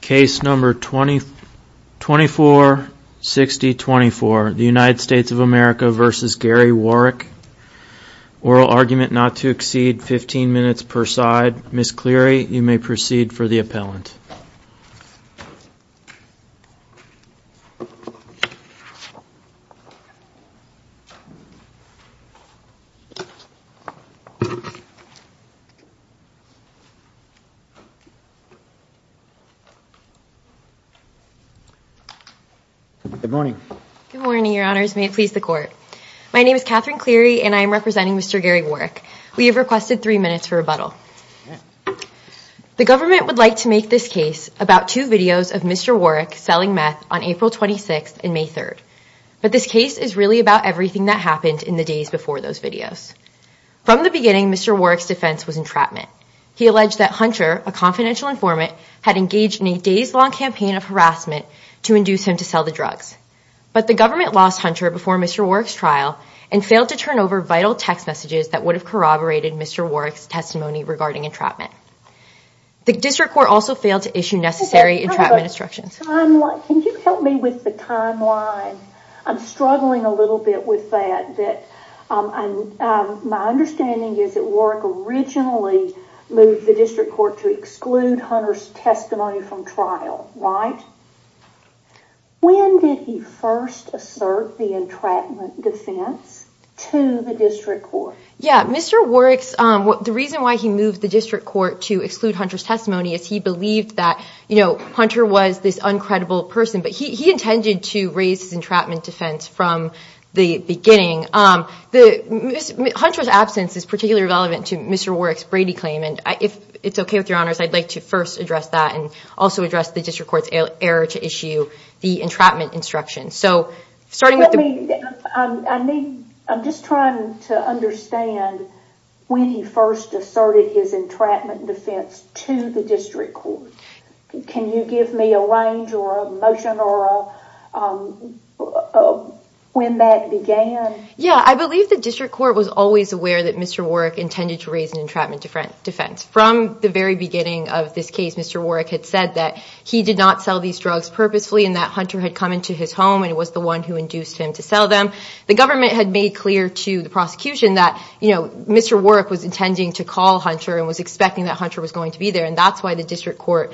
case number 20 24 60 24 the United States of America versus Gary Warick oral argument not to exceed 15 minutes per side Miss Cleary you may proceed for the appellant good morning good morning your honors may it please the court my name is Katherine Cleary and I am representing mr. Gary Warick we have requested three minutes for rebuttal the government would like to make this case about two videos of mr. Warick selling meth on April 26th in May 3rd but this case is really about everything that happened in the days before those videos from the beginning mr. Warick's defense was entrapment he alleged that hunter a confidential informant had engaged in a days-long campaign of harassment to induce him to sell the drugs but the government lost hunter before mr. Warick's trial and failed to turn over vital text messages that would have corroborated mr. Warick's testimony regarding entrapment the district court also failed to issue necessary entrapment instructions I'm like can you help me with the timeline I'm struggling a little bit with that that I'm my understanding is that work originally moved the district court to exclude hunters testimony from trial right when did he first assert the entrapment defense to the district court yeah mr. Warick's what the reason why he moved the district court to exclude hunters testimony is he believed that you know hunter was this uncredible person but he intended to raise his entrapment defense from the beginning um the hunters absence is particularly relevant to mr. Warick's Brady claim and if it's okay with your honors I'd like to first address that and also address the district court's error to issue the entrapment instruction so starting with me I'm just trying to understand when he first asserted his entrapment defense to the district court can you give me a range or a motion or when that began yeah I believe the district court was always aware that mr. Warick intended to raise an entrapment defense from the very beginning of this case mr. Warick had said that he did not sell these drugs purposefully and that hunter had come into his home and it was the one who induced him to sell them the government had made clear to the prosecution that you know mr. Warick was intending to call hunter and was expecting that hunter was going to be there and that's why the district court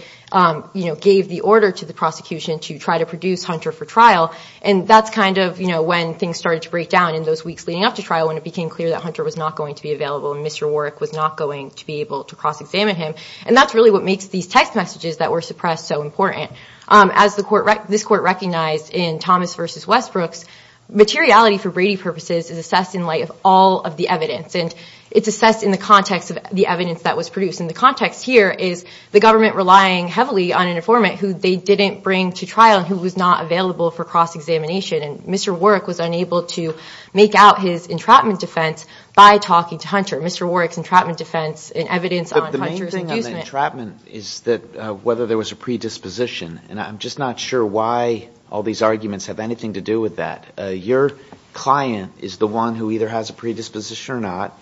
you know gave the order to the prosecution to try to produce hunter for trial and that's kind of you know when things started to break down in those weeks leading up to trial when it became clear that hunter was not going to be available and mr. Warick was not going to be able to cross-examine him and that's really what makes these text messages that were suppressed so important as the court right this court recognized in Thomas versus Westbrook's materiality for Brady purposes is assessed in light of all of the evidence and it's assessed in the context of the evidence that was produced in the context here is the government relying heavily on an informant who they didn't bring to trial who was not available for cross-examination and mr. Warick was unable to make out his entrapment defense by talking to hunter mr. Warick's entrapment defense and evidence on the entrapment is that whether there was a predisposition and I'm just not sure why all these arguments have anything to do with that your client is the one who either has a predisposition or not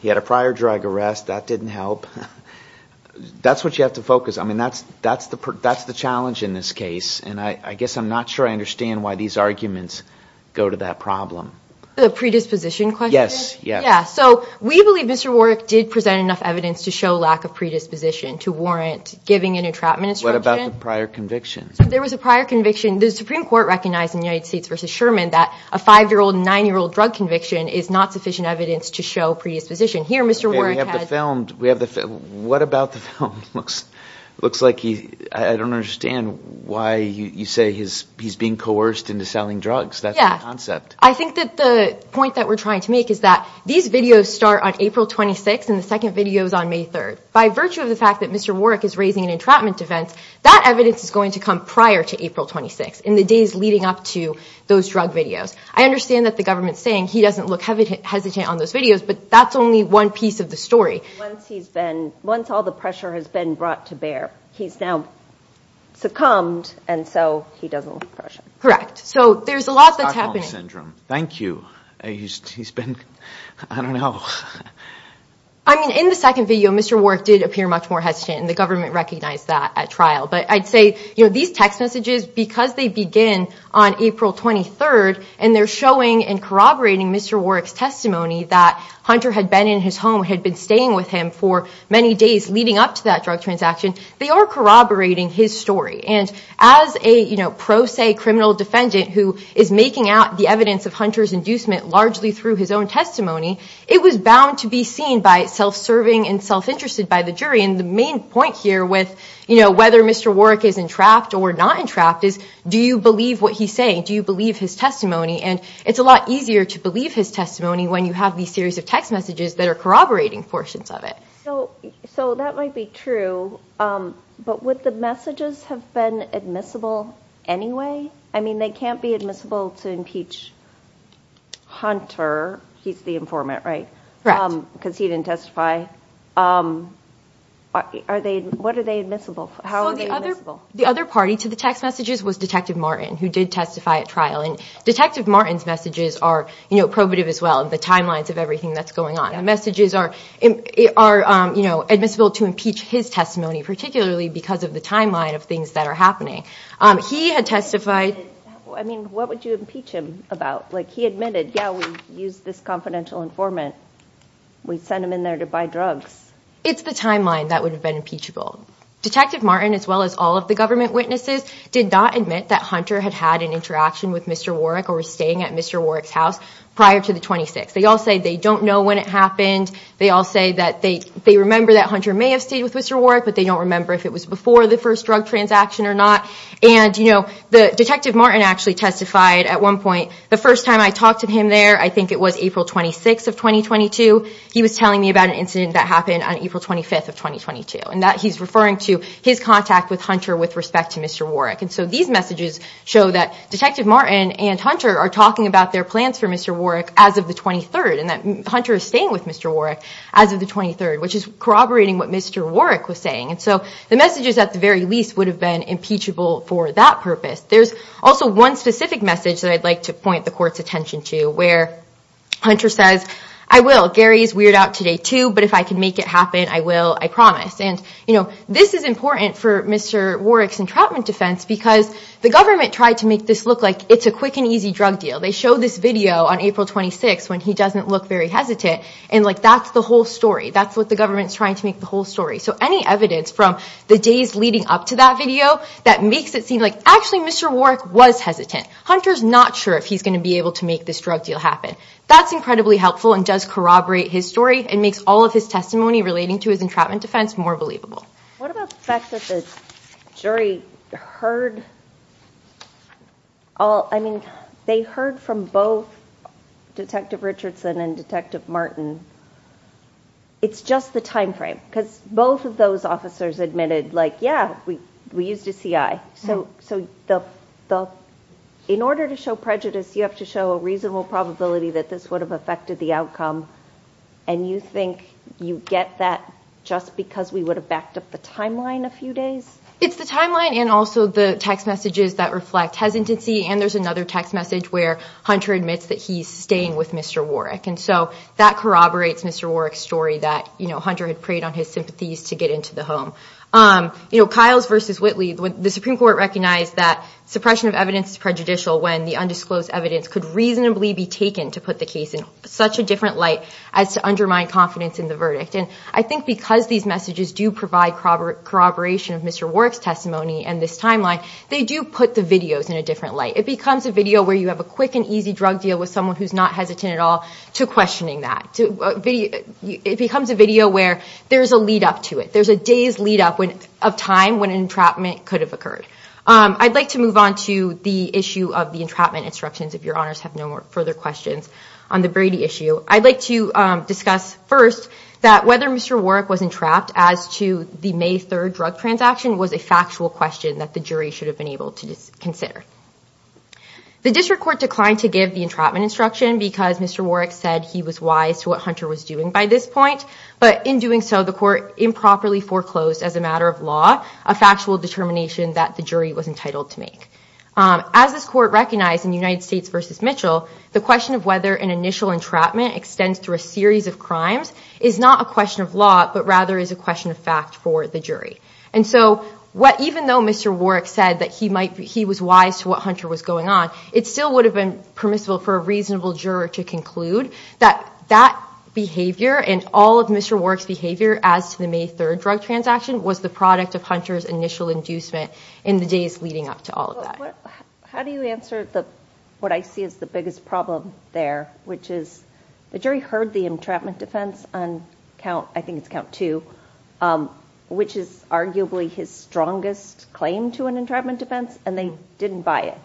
he had a prior drug arrest that didn't help that's what you have to focus I mean that's that's the that's the challenge in this case and I guess I'm not sure I understand why these arguments go to that problem the predisposition yes yeah yeah so we believe mr. Warick did present enough evidence to show lack of prior convictions there was a prior conviction the Supreme Court recognized in the United States versus Sherman that a five-year-old nine-year-old drug conviction is not sufficient evidence to show predisposition here mr. Warren filmed we have the film what about the film looks looks like he I don't understand why you say his he's being coerced into selling drugs that yeah I think that the point that we're trying to make is that these videos start on April 26 and the second videos on May 3rd by virtue of the fact that mr. Warwick is raising an entrapment defense that evidence is going to come prior to April 26 in the days leading up to those drug videos I understand that the government's saying he doesn't look heavy hesitant on those videos but that's only one piece of the story once he's been once all the pressure has been brought to bear he's now succumbed and so he doesn't correct so there's a lot that's happening syndrome thank you he's been I don't know I mean in the second video mr. Warwick did appear much more hesitant and the government recognized that at trial but I'd say you know these text messages because they begin on April 23rd and they're showing and corroborating mr. Warwick's testimony that hunter had been in his home had been staying with him for many days leading up to that drug transaction they are corroborating his story and as a you know pro se criminal defendant who is making out the evidence of hunters inducement largely through his own testimony it was bound to be seen by self-serving and self-interested by the jury and the main point here with you know whether mr. Warwick is entrapped or not entrapped is do you believe what he's saying do you believe his testimony and it's a lot easier to believe his testimony when you have these series of text messages that are corroborating portions of it so so that might be true but with the messages have been admissible anyway I mean they can't be admissible to impeach hunter he's the testify are they what are they admissible the other party to the text messages was detective Martin who did testify at trial and detective Martin's messages are you know probative as well and the timelines of everything that's going on the messages are it are you know admissible to impeach his testimony particularly because of the timeline of things that are happening he had testified I mean what would you impeach him about like he admitted yeah we use this confidential informant we send them in there to buy drugs it's the timeline that would have been impeachable detective Martin as well as all of the government witnesses did not admit that hunter had had an interaction with mr. Warwick or staying at mr. Warwick's house prior to the 26th they all say they don't know when it happened they all say that they they remember that hunter may have stayed with mr. Warwick but they don't remember if it was before the first drug transaction or not and you know the detective Martin actually testified at one point the first time I talked to him there I think it was April 26 of 2022 he was telling me about an incident that happened on April 25th of 2022 and that he's referring to his contact with hunter with respect to mr. Warwick and so these messages show that detective Martin and hunter are talking about their plans for mr. Warwick as of the 23rd and that hunter is staying with mr. Warwick as of the 23rd which is corroborating what mr. Warwick was saying and so the messages at the very least would have been impeachable for that purpose there's also one specific message that I'd like to point the court's attention to where hunter says I will Gary's weird out today too but if I can make it happen I will I promise and you know this is important for mr. Warwick's entrapment defense because the government tried to make this look like it's a quick and easy drug deal they show this video on April 26 when he doesn't look very hesitant and like that's the whole story that's what the government's trying to make the whole story so any evidence from the days leading up to that video that makes it seem like actually mr. Warwick was hesitant hunters not sure if he's gonna be able to make this drug deal happen that's incredibly helpful and does corroborate his story and makes all of his testimony relating to his entrapment defense more believable what about the fact that the jury heard all I mean they heard from both detective Richardson and detective Martin it's just the time frame because both of those officers admitted like yeah we we used a CI so so the in order to show prejudice you have to show a reasonable probability that this would have affected the outcome and you think you get that just because we would have backed up the timeline a few days it's the timeline and also the text messages that reflect hesitancy and there's another text message where hunter admits that he's staying with mr. Warwick and so that corroborates mr. Warwick story that you know hunter had preyed on his sympathies to get into the home you know Kyle's versus Whitley the Supreme Court recognized that suppression of evidence is prejudicial when the undisclosed evidence could reasonably be taken to put the case in such a different light as to undermine confidence in the verdict and I think because these messages do provide corroboration of mr. Warwick's testimony and this timeline they do put the videos in a different light it becomes a video where you have a quick and easy drug deal with someone who's not hesitant at all to questioning that to video it becomes a video where there's a lead-up to it there's a day's lead-up when of time when an entrapment could have occurred I'd like to move on to the issue of the entrapment instructions if your honors have no more further questions on the Brady issue I'd like to discuss first that whether mr. Warwick was entrapped as to the May 3rd drug transaction was a factual question that the jury should have been able to just consider the district court declined to give the entrapment instruction because mr. Warwick said he was wise to what hunter was doing by this point but in doing so the court improperly foreclosed as a matter of law a factual determination that the jury was entitled to make as this court recognized in the United States versus Mitchell the question of whether an initial entrapment extends through a series of crimes is not a question of law but rather is a question of fact for the jury and so what even though mr. Warwick said that he might be he was wise to what hunter was going on it still would have been permissible for a reasonable juror to conclude that that behavior and all of mr. Warwick's behavior as to the May 3rd drug transaction was the product of hunters initial inducement in the days leading up to all of that how do you answer the what I see is the biggest problem there which is the jury heard the entrapment defense on count I think it's count to which is arguably his strongest claim to an entrapment defense and they didn't buy it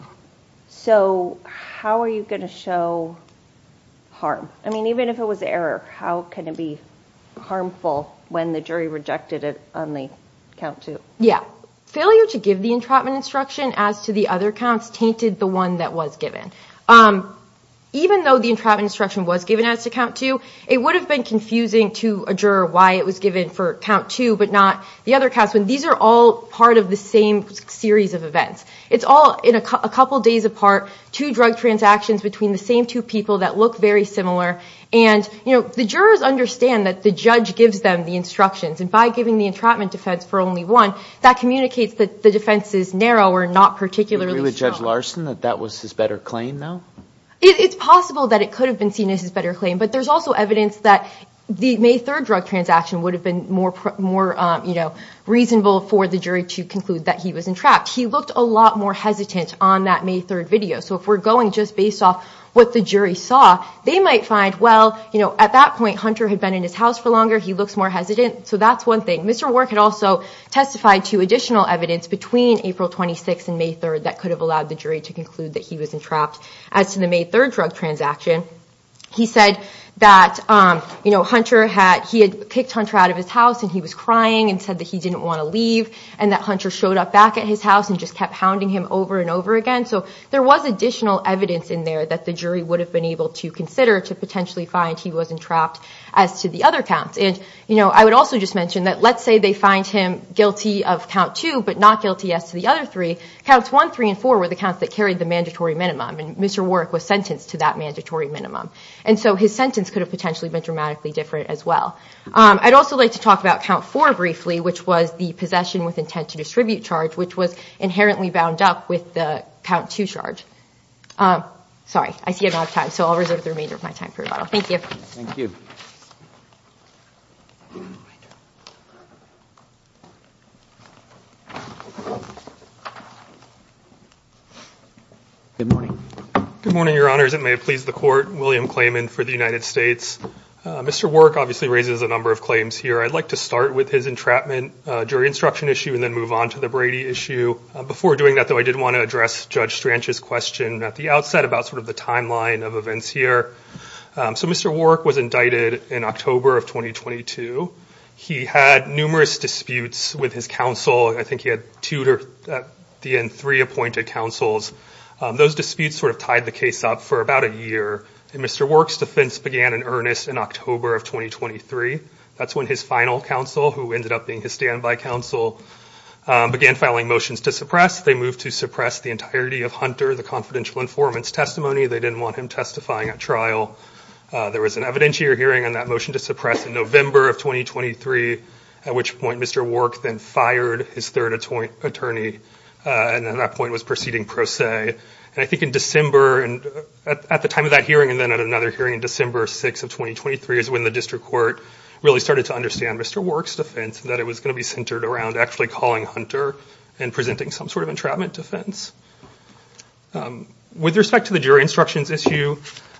so how are you going to show harm I mean even if it was error how can it be harmful when the jury rejected it on the count to yeah failure to give the entrapment instruction as to the other counts tainted the one that was given even though the entrapment instruction was given as to count to it would have been confusing to a juror why it was given for count to but not the other cast when these are all part of the same series of events it's all in a couple days apart two drug transactions between the same two people that look very similar and you know the jurors understand that the judge gives them the instructions and by giving the entrapment defense for only one that communicates that the defense is narrow or not particularly judge Larson that that was his better claim though it's possible that it could have been seen as his better claim but there's also evidence that the May 3rd drug transaction would have been more more you know reasonable for the jury to conclude that he was entrapped he looked a lot more hesitant on that May 3rd video so if we're going just based off what the jury saw they might find well you know at that point hunter had been in his house for longer he looks more hesitant so that's one thing mr. work had also testified to additional evidence between April 26 and May 3rd that could have allowed the jury to conclude that he was entrapped as to the May 3rd drug transaction he said that you know hunter had he had kicked hunter out of his house and he was crying and said that he didn't want to leave and that hunter showed up back at his house and just kept hounding him over and over again so there was additional evidence in there that the jury would have been able to consider to potentially find he wasn't trapped as to the other counts and you know I would also just mention that let's say they find him guilty of count two but not guilty yes to the other three counts one three and four were the counts that carried the mandatory minimum and mr. work was sentenced to that mandatory minimum and so his sentence could have potentially been dramatically different as well I'd also like to talk about count for briefly which was the possession with intent to distribute charge which was inherently bound up with the count to charge sorry I see a lot of time so I'll reserve the remainder of my time for a bottle thank you good morning good morning your honors it may have pleased the court William claimant for the United States mr. work obviously raises a number of claims here I'd like to start with his entrapment jury instruction issue and then move on to the Brady issue before doing that though I did want to address judge Strange's question at the outset about sort of the timeline of events here so mr. work was indicted in October of 2022 he had numerous disputes with his counsel I think he had tutor at the end three appointed counsels those disputes sort of tied the case up for about a year and Mr. works defense began in earnest in October of 2023 that's when his final counsel who ended up being his standby counsel began filing motions to suppress they moved to suppress the entirety of hunter the confidential informants testimony they didn't want him testifying at trial there was an evidentiary hearing on that motion to suppress in November of 2023 at which point mr. work then fired his third attorney and then that point was proceeding pro se and I think in December and at the time of that hearing and then at another hearing in December 6 of 2023 is when the district court really started to understand mr. works defense that it was going to be centered around actually calling hunter and presenting some sort of entrapment defense with respect to the jury instructions issue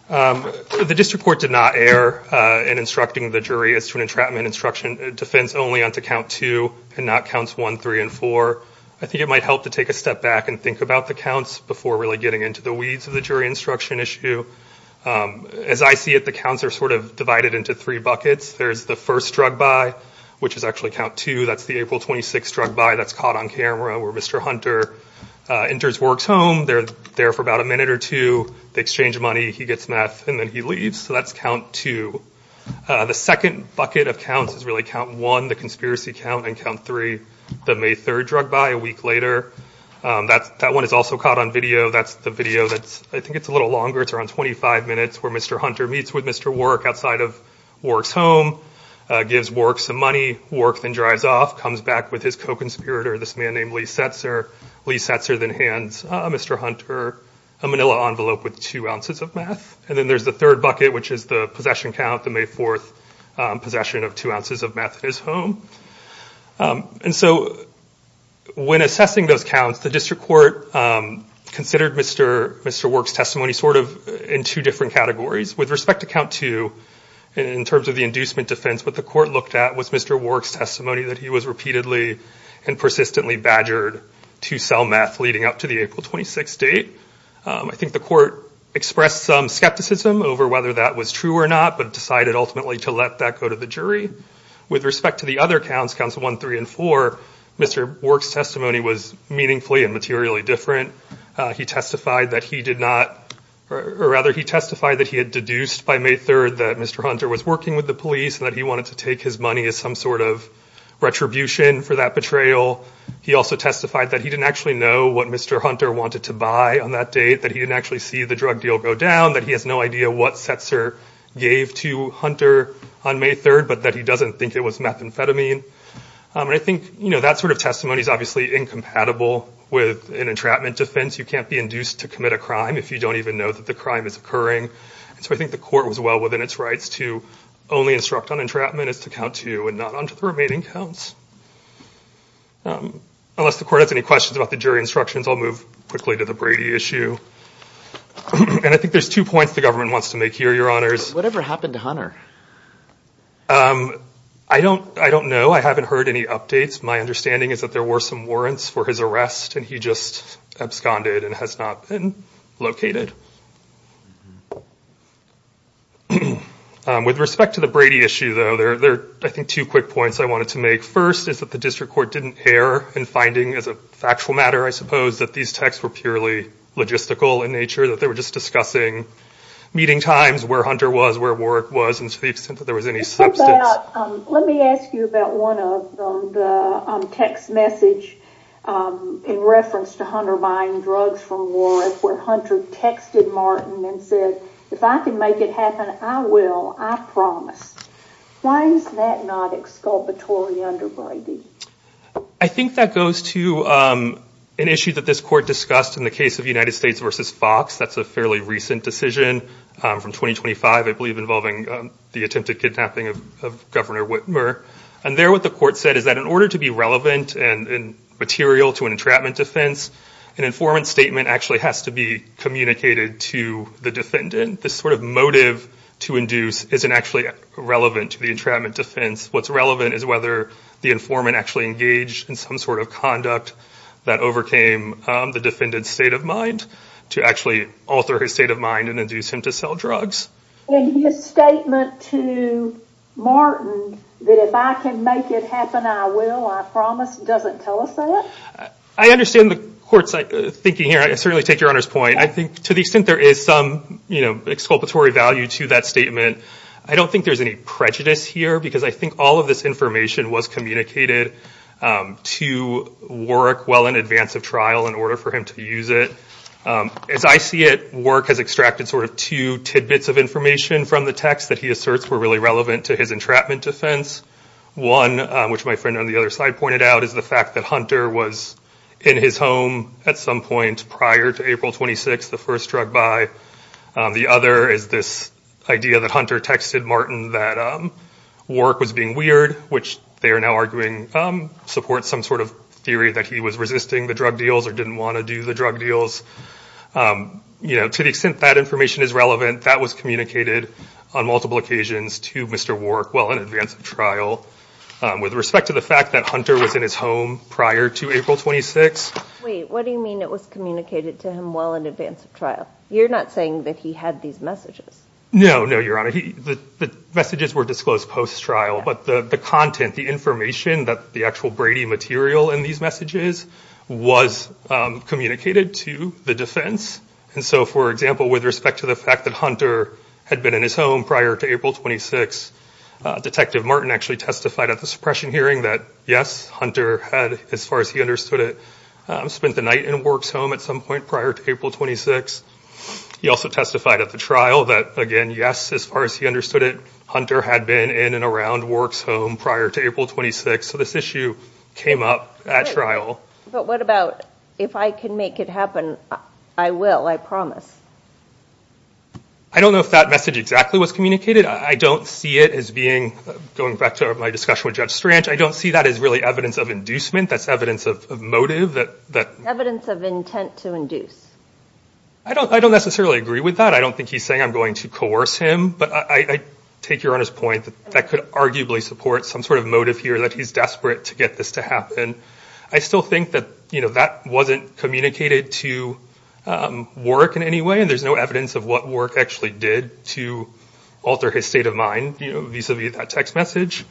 the district court did not err in instructing the jury as to an entrapment instruction defense only on to count two and not counts one three and four I think it might help to take a step back and think about the counts before really getting into the weeds of the jury instruction issue as I see it the counts are sort of divided into three buckets there's the first drug by which is actually count two that's the April 26 drug by that's caught on camera where mr. hunter enters works home they're there for about a minute or two they exchange money he gets meth and then he leaves so that's count two the second bucket of counts is really count one the conspiracy count and count three the May 3rd drug by a video that's I think it's a little longer it's around 25 minutes where mr. hunter meets with mr. work outside of works home gives work some money work then drives off comes back with his co-conspirator this man named Lee sets her Lee sets her than hands mr. hunter a manila envelope with two ounces of meth and then there's the third bucket which is the possession count the May 4th possession of two ounces of meth at his home and so when assessing those counts the district court considered mr. mr. works testimony sort of in two different categories with respect to count two in terms of the inducement defense but the court looked at was mr. works testimony that he was repeatedly and persistently badgered to sell meth leading up to the April 26 date I think the court expressed some skepticism over whether that was true or not but decided ultimately to let that go to the jury with respect to the other counts council 1 3 & 4 mr. works testimony was meaningfully and materially different he testified that he did not or rather he testified that he had deduced by May 3rd that mr. hunter was working with the police and that he wanted to take his money as some sort of retribution for that betrayal he also testified that he didn't actually know what mr. hunter wanted to buy on that date that he didn't actually see the drug deal go down that he has no idea what sets her gave to hunter on May 3rd but that he doesn't think it was methamphetamine and I think you know that sort of testimony is obviously incompatible with an entrapment defense you can't be induced to commit a crime if you don't even know that the crime is occurring so I think the court was well within its rights to only instruct on entrapment is to count to you and not onto the remaining counts unless the court has any questions about the jury instructions I'll move quickly to the Brady issue and I think there's two points the government wants to make here your honors whatever happened to hunter I don't I don't know I haven't heard any updates my understanding is that there were some warrants for his arrest and he just absconded and has not been located with respect to the Brady issue though they're there I think two quick points I wanted to make first is that the district court didn't err and finding as a factual matter I suppose that these texts were purely logistical in nature that they were just discussing meeting times where hunter was where work was there was any substance let me ask you about one of the text message in reference to hunter buying drugs from war where hunter texted Martin and said if I can make it happen I will I promise why is that not exculpatory under Brady I think that goes to an issue that this court discussed in the case of United States versus Fox that's a fairly recent decision from 2025 I believe involving the attempted kidnapping of governor Whitmer and there what the court said is that in order to be relevant and material to an entrapment defense an informant statement actually has to be communicated to the defendant this sort of motive to induce isn't actually relevant to the entrapment defense what's relevant is whether the informant actually engaged in some sort of conduct that overcame the defendant's state of mind to actually alter his state of mind and induce him to sell drugs I understand the courts like thinking here I certainly take your honor's point I think to the extent there is some you know exculpatory value to that statement I don't think there's any prejudice here because I think all of this information was communicated to work well in advance of trial in order for him to use it as I see it work has extracted sort of two tidbits of information from the text that he asserts were really relevant to his entrapment defense one which my friend on the other side pointed out is the fact that hunter was in his home at some point prior to April 26 the first drug by the other is this idea that hunter texted Martin that work was being weird which they are now arguing support some sort of theory that he was resisting the drug deals or didn't want to do the drug deals you know to the extent that information is relevant that was communicated on multiple occasions to mr. work well in advance of trial with respect to the fact that hunter was in his home prior to April 26 what do you mean it was communicated to him well in advance of trial you're not saying that he had these messages no no your honor he the messages were disclosed post trial but the the content the information that the actual Brady material in these messages was communicated to the defense and so for example with respect to the fact that hunter had been in his home prior to April 26 detective Martin actually testified at the suppression hearing that yes hunter had as far as he understood it spent the night in works home at some point prior to April 26 he also testified at the trial that again yes as far as he understood it hunter had been in and around works home prior to April 26 so this issue came up at trial but what about if I can make it happen I will I promise I don't know if that message exactly was communicated I don't see it as being going back to my discussion with judge Strange I don't see that as really evidence of inducement that's evidence of motive that that evidence of intent to induce I don't I don't necessarily agree with that I don't think he's saying I'm going to coerce him but I take your honor's point that that could arguably support some sort of motive here that he's desperate to get this to happen I still think that you know that wasn't communicated to work in any way and there's no evidence of what work actually did to alter his state of mind you know vis-a-vis that text message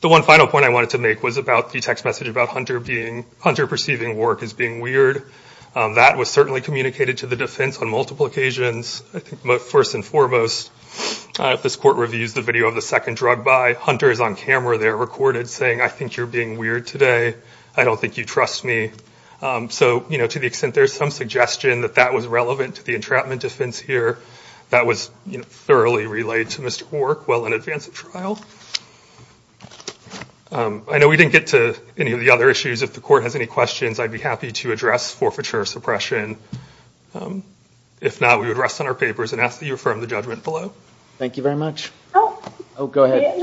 the one final point I wanted to make was about the text message about hunter being hunter perceiving work as being weird that was certainly communicated to the defense on multiple occasions I think but first and foremost if this court reviews the video of the second drug by hunters on camera they're recorded saying I think you're being weird today I don't think you trust me so you know to the extent there's some suggestion that that was relevant to the entrapment defense here that was you know thoroughly relayed to mr. work well in advance of trial I know we didn't get to any of the other issues if the court has any questions I'd be happy to address forfeiture suppression if not we would rest on our papers and ask that you affirm the judgment below thank you very much oh oh go ahead yes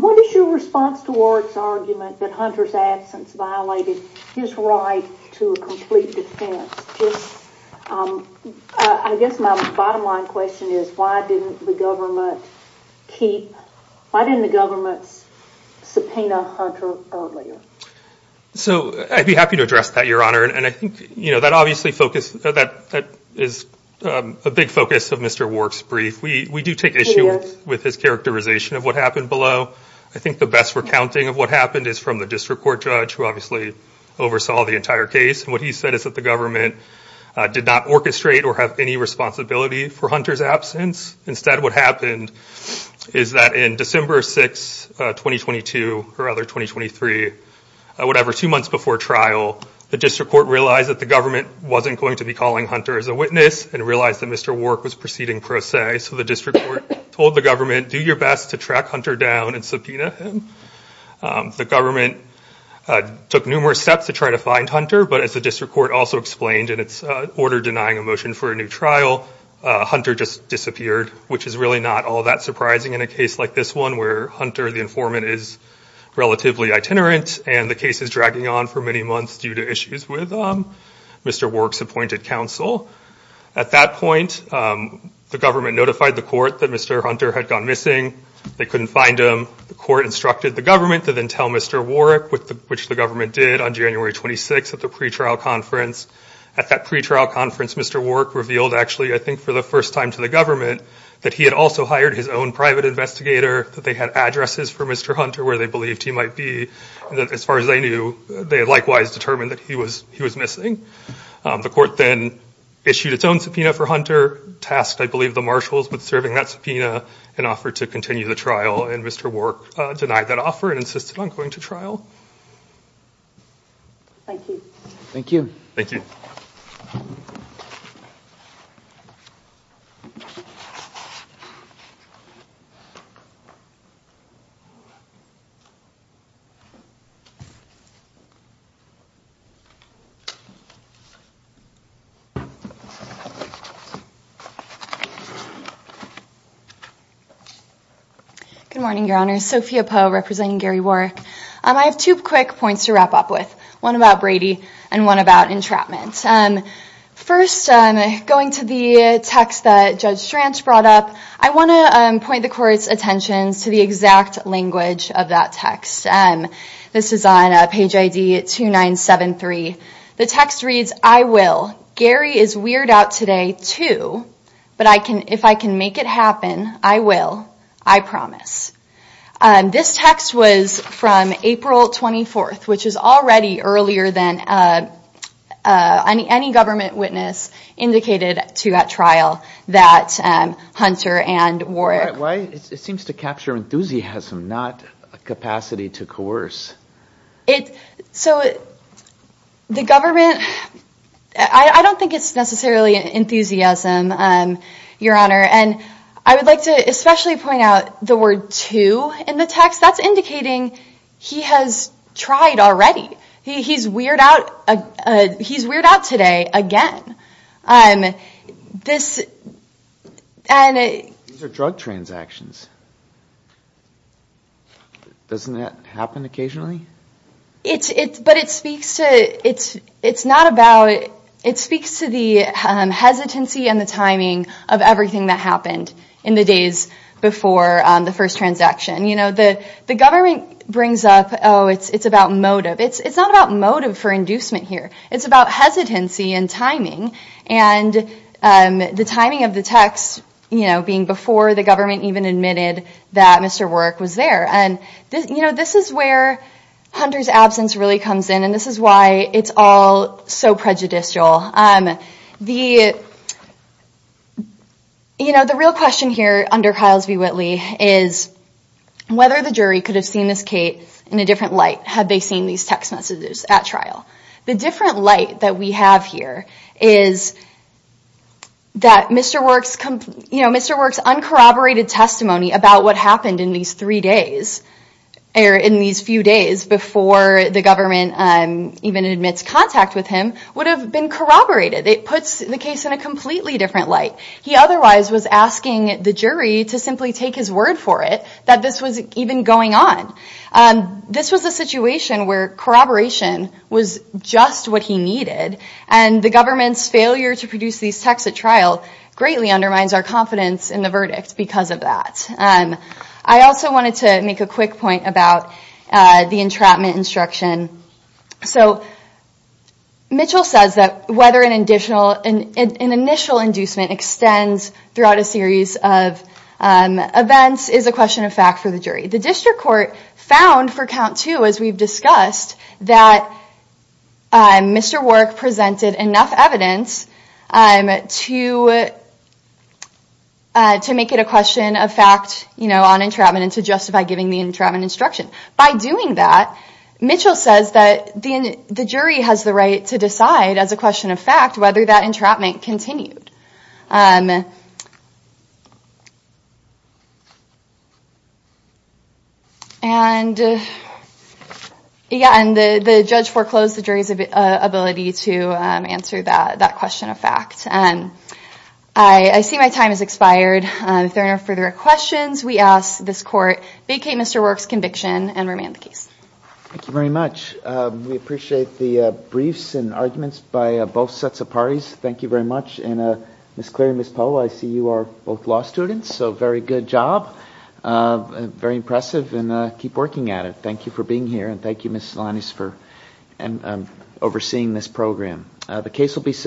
what is your response towards argument that hunters absence violated his right to complete defense I guess my bottom line question is why didn't the keep why didn't the government's subpoena hunter earlier so I'd be happy to address that your honor and I think you know that obviously focus that that is a big focus of mr. works brief we we do take issue with his characterization of what happened below I think the best recounting of what happened is from the district court judge who obviously oversaw the entire case and what he said is that the government did not orchestrate or have any responsibility for hunters absence instead what happened is that in December 6 2022 or other 2023 whatever two months before trial the district court realized that the government wasn't going to be calling hunter as a witness and realized that mr. work was proceeding pro se so the district court told the government do your best to track hunter down and subpoena him the government took numerous steps to try to find hunter but as the district court also explained in its order denying a motion for a new trial hunter just disappeared which is really not all that surprising in a case like this one where hunter the informant is relatively itinerant and the case is dragging on for many months due to issues with mr. works appointed counsel at that point the government notified the court that mr. hunter had gone missing they couldn't find him the court instructed the government to then tell mr. warwick with the which the did on January 26 at the pretrial conference at that pretrial conference mr. work revealed actually I think for the first time to the government that he had also hired his own private investigator that they had addresses for mr. hunter where they believed he might be that as far as I knew they likewise determined that he was he was missing the court then issued its own subpoena for hunter tasked I believe the marshals but serving that subpoena and offered to continue the trial and mr. work denied that offer and insisted on going to thank you thank you thank you I have two quick points to wrap up with one about Brady and one about entrapment and first I'm going to the text that judge branch brought up I want to point the court's attentions to the exact language of that text and this is page ID at 2973 the text reads I will Gary is weird out today too but I can if I can make it happen I will I promise and this text was from April 24th which is already earlier than any government witness indicated to that trial that hunter and war it seems to capture enthusiasm not a capacity to coerce it so it the government I don't think it's necessarily an enthusiasm and your honor and I would like to especially point out the word to in the text that's indicating he has tried already he's weird out he's weird out today again and this and a drug transactions doesn't that happen occasionally it's it's but it speaks to it's it's not about it it speaks to the hesitancy and the timing of everything that happened in the days before the first transaction you know that the government brings up oh it's it's about motive it's it's not about here it's about hesitancy and timing and the timing of the text you know being before the government even admitted that mr. work was there and you know this is where hunters absence really comes in and this is why it's all so prejudicial and the you know the real question here under Kyle's v. Whitley is whether the jury could have seen this Kate in a different light have they seen these text messages at trial the different light that we have here is that mr. works come you know mr. works uncorroborated testimony about what happened in these three days air in these few days before the government and even admits contact with him would have been corroborated it puts the case in a completely different light he otherwise was asking the jury to simply take his word for it that this was even going on this was a situation where corroboration was just what he needed and the government's failure to produce these texts at trial greatly undermines our confidence in the verdict because of that and I also wanted to make a quick point about the entrapment instruction so Mitchell says that whether an additional and an initial inducement extends throughout a series of events is a question of fact for the jury the district court found for count two as we've discussed that mr. work presented enough evidence to to make it a question of fact you know on entrapment and to justify giving the entrapment instruction by doing that Mitchell says that the jury has the to decide as a question of fact whether that entrapment continued and yeah and the the judge foreclosed the jury's ability to answer that that question of fact and I I see my time has expired if there are further questions we ask this court vacate mr. works conviction and remand the case thank you very much we appreciate the briefs and arguments by both sets of parties thank you very much and a miss Cleary miss Poe I see you are both law students so very good job very impressive and keep working at it thank you for being here and thank you miss Alanis for and overseeing this program the case will be submitted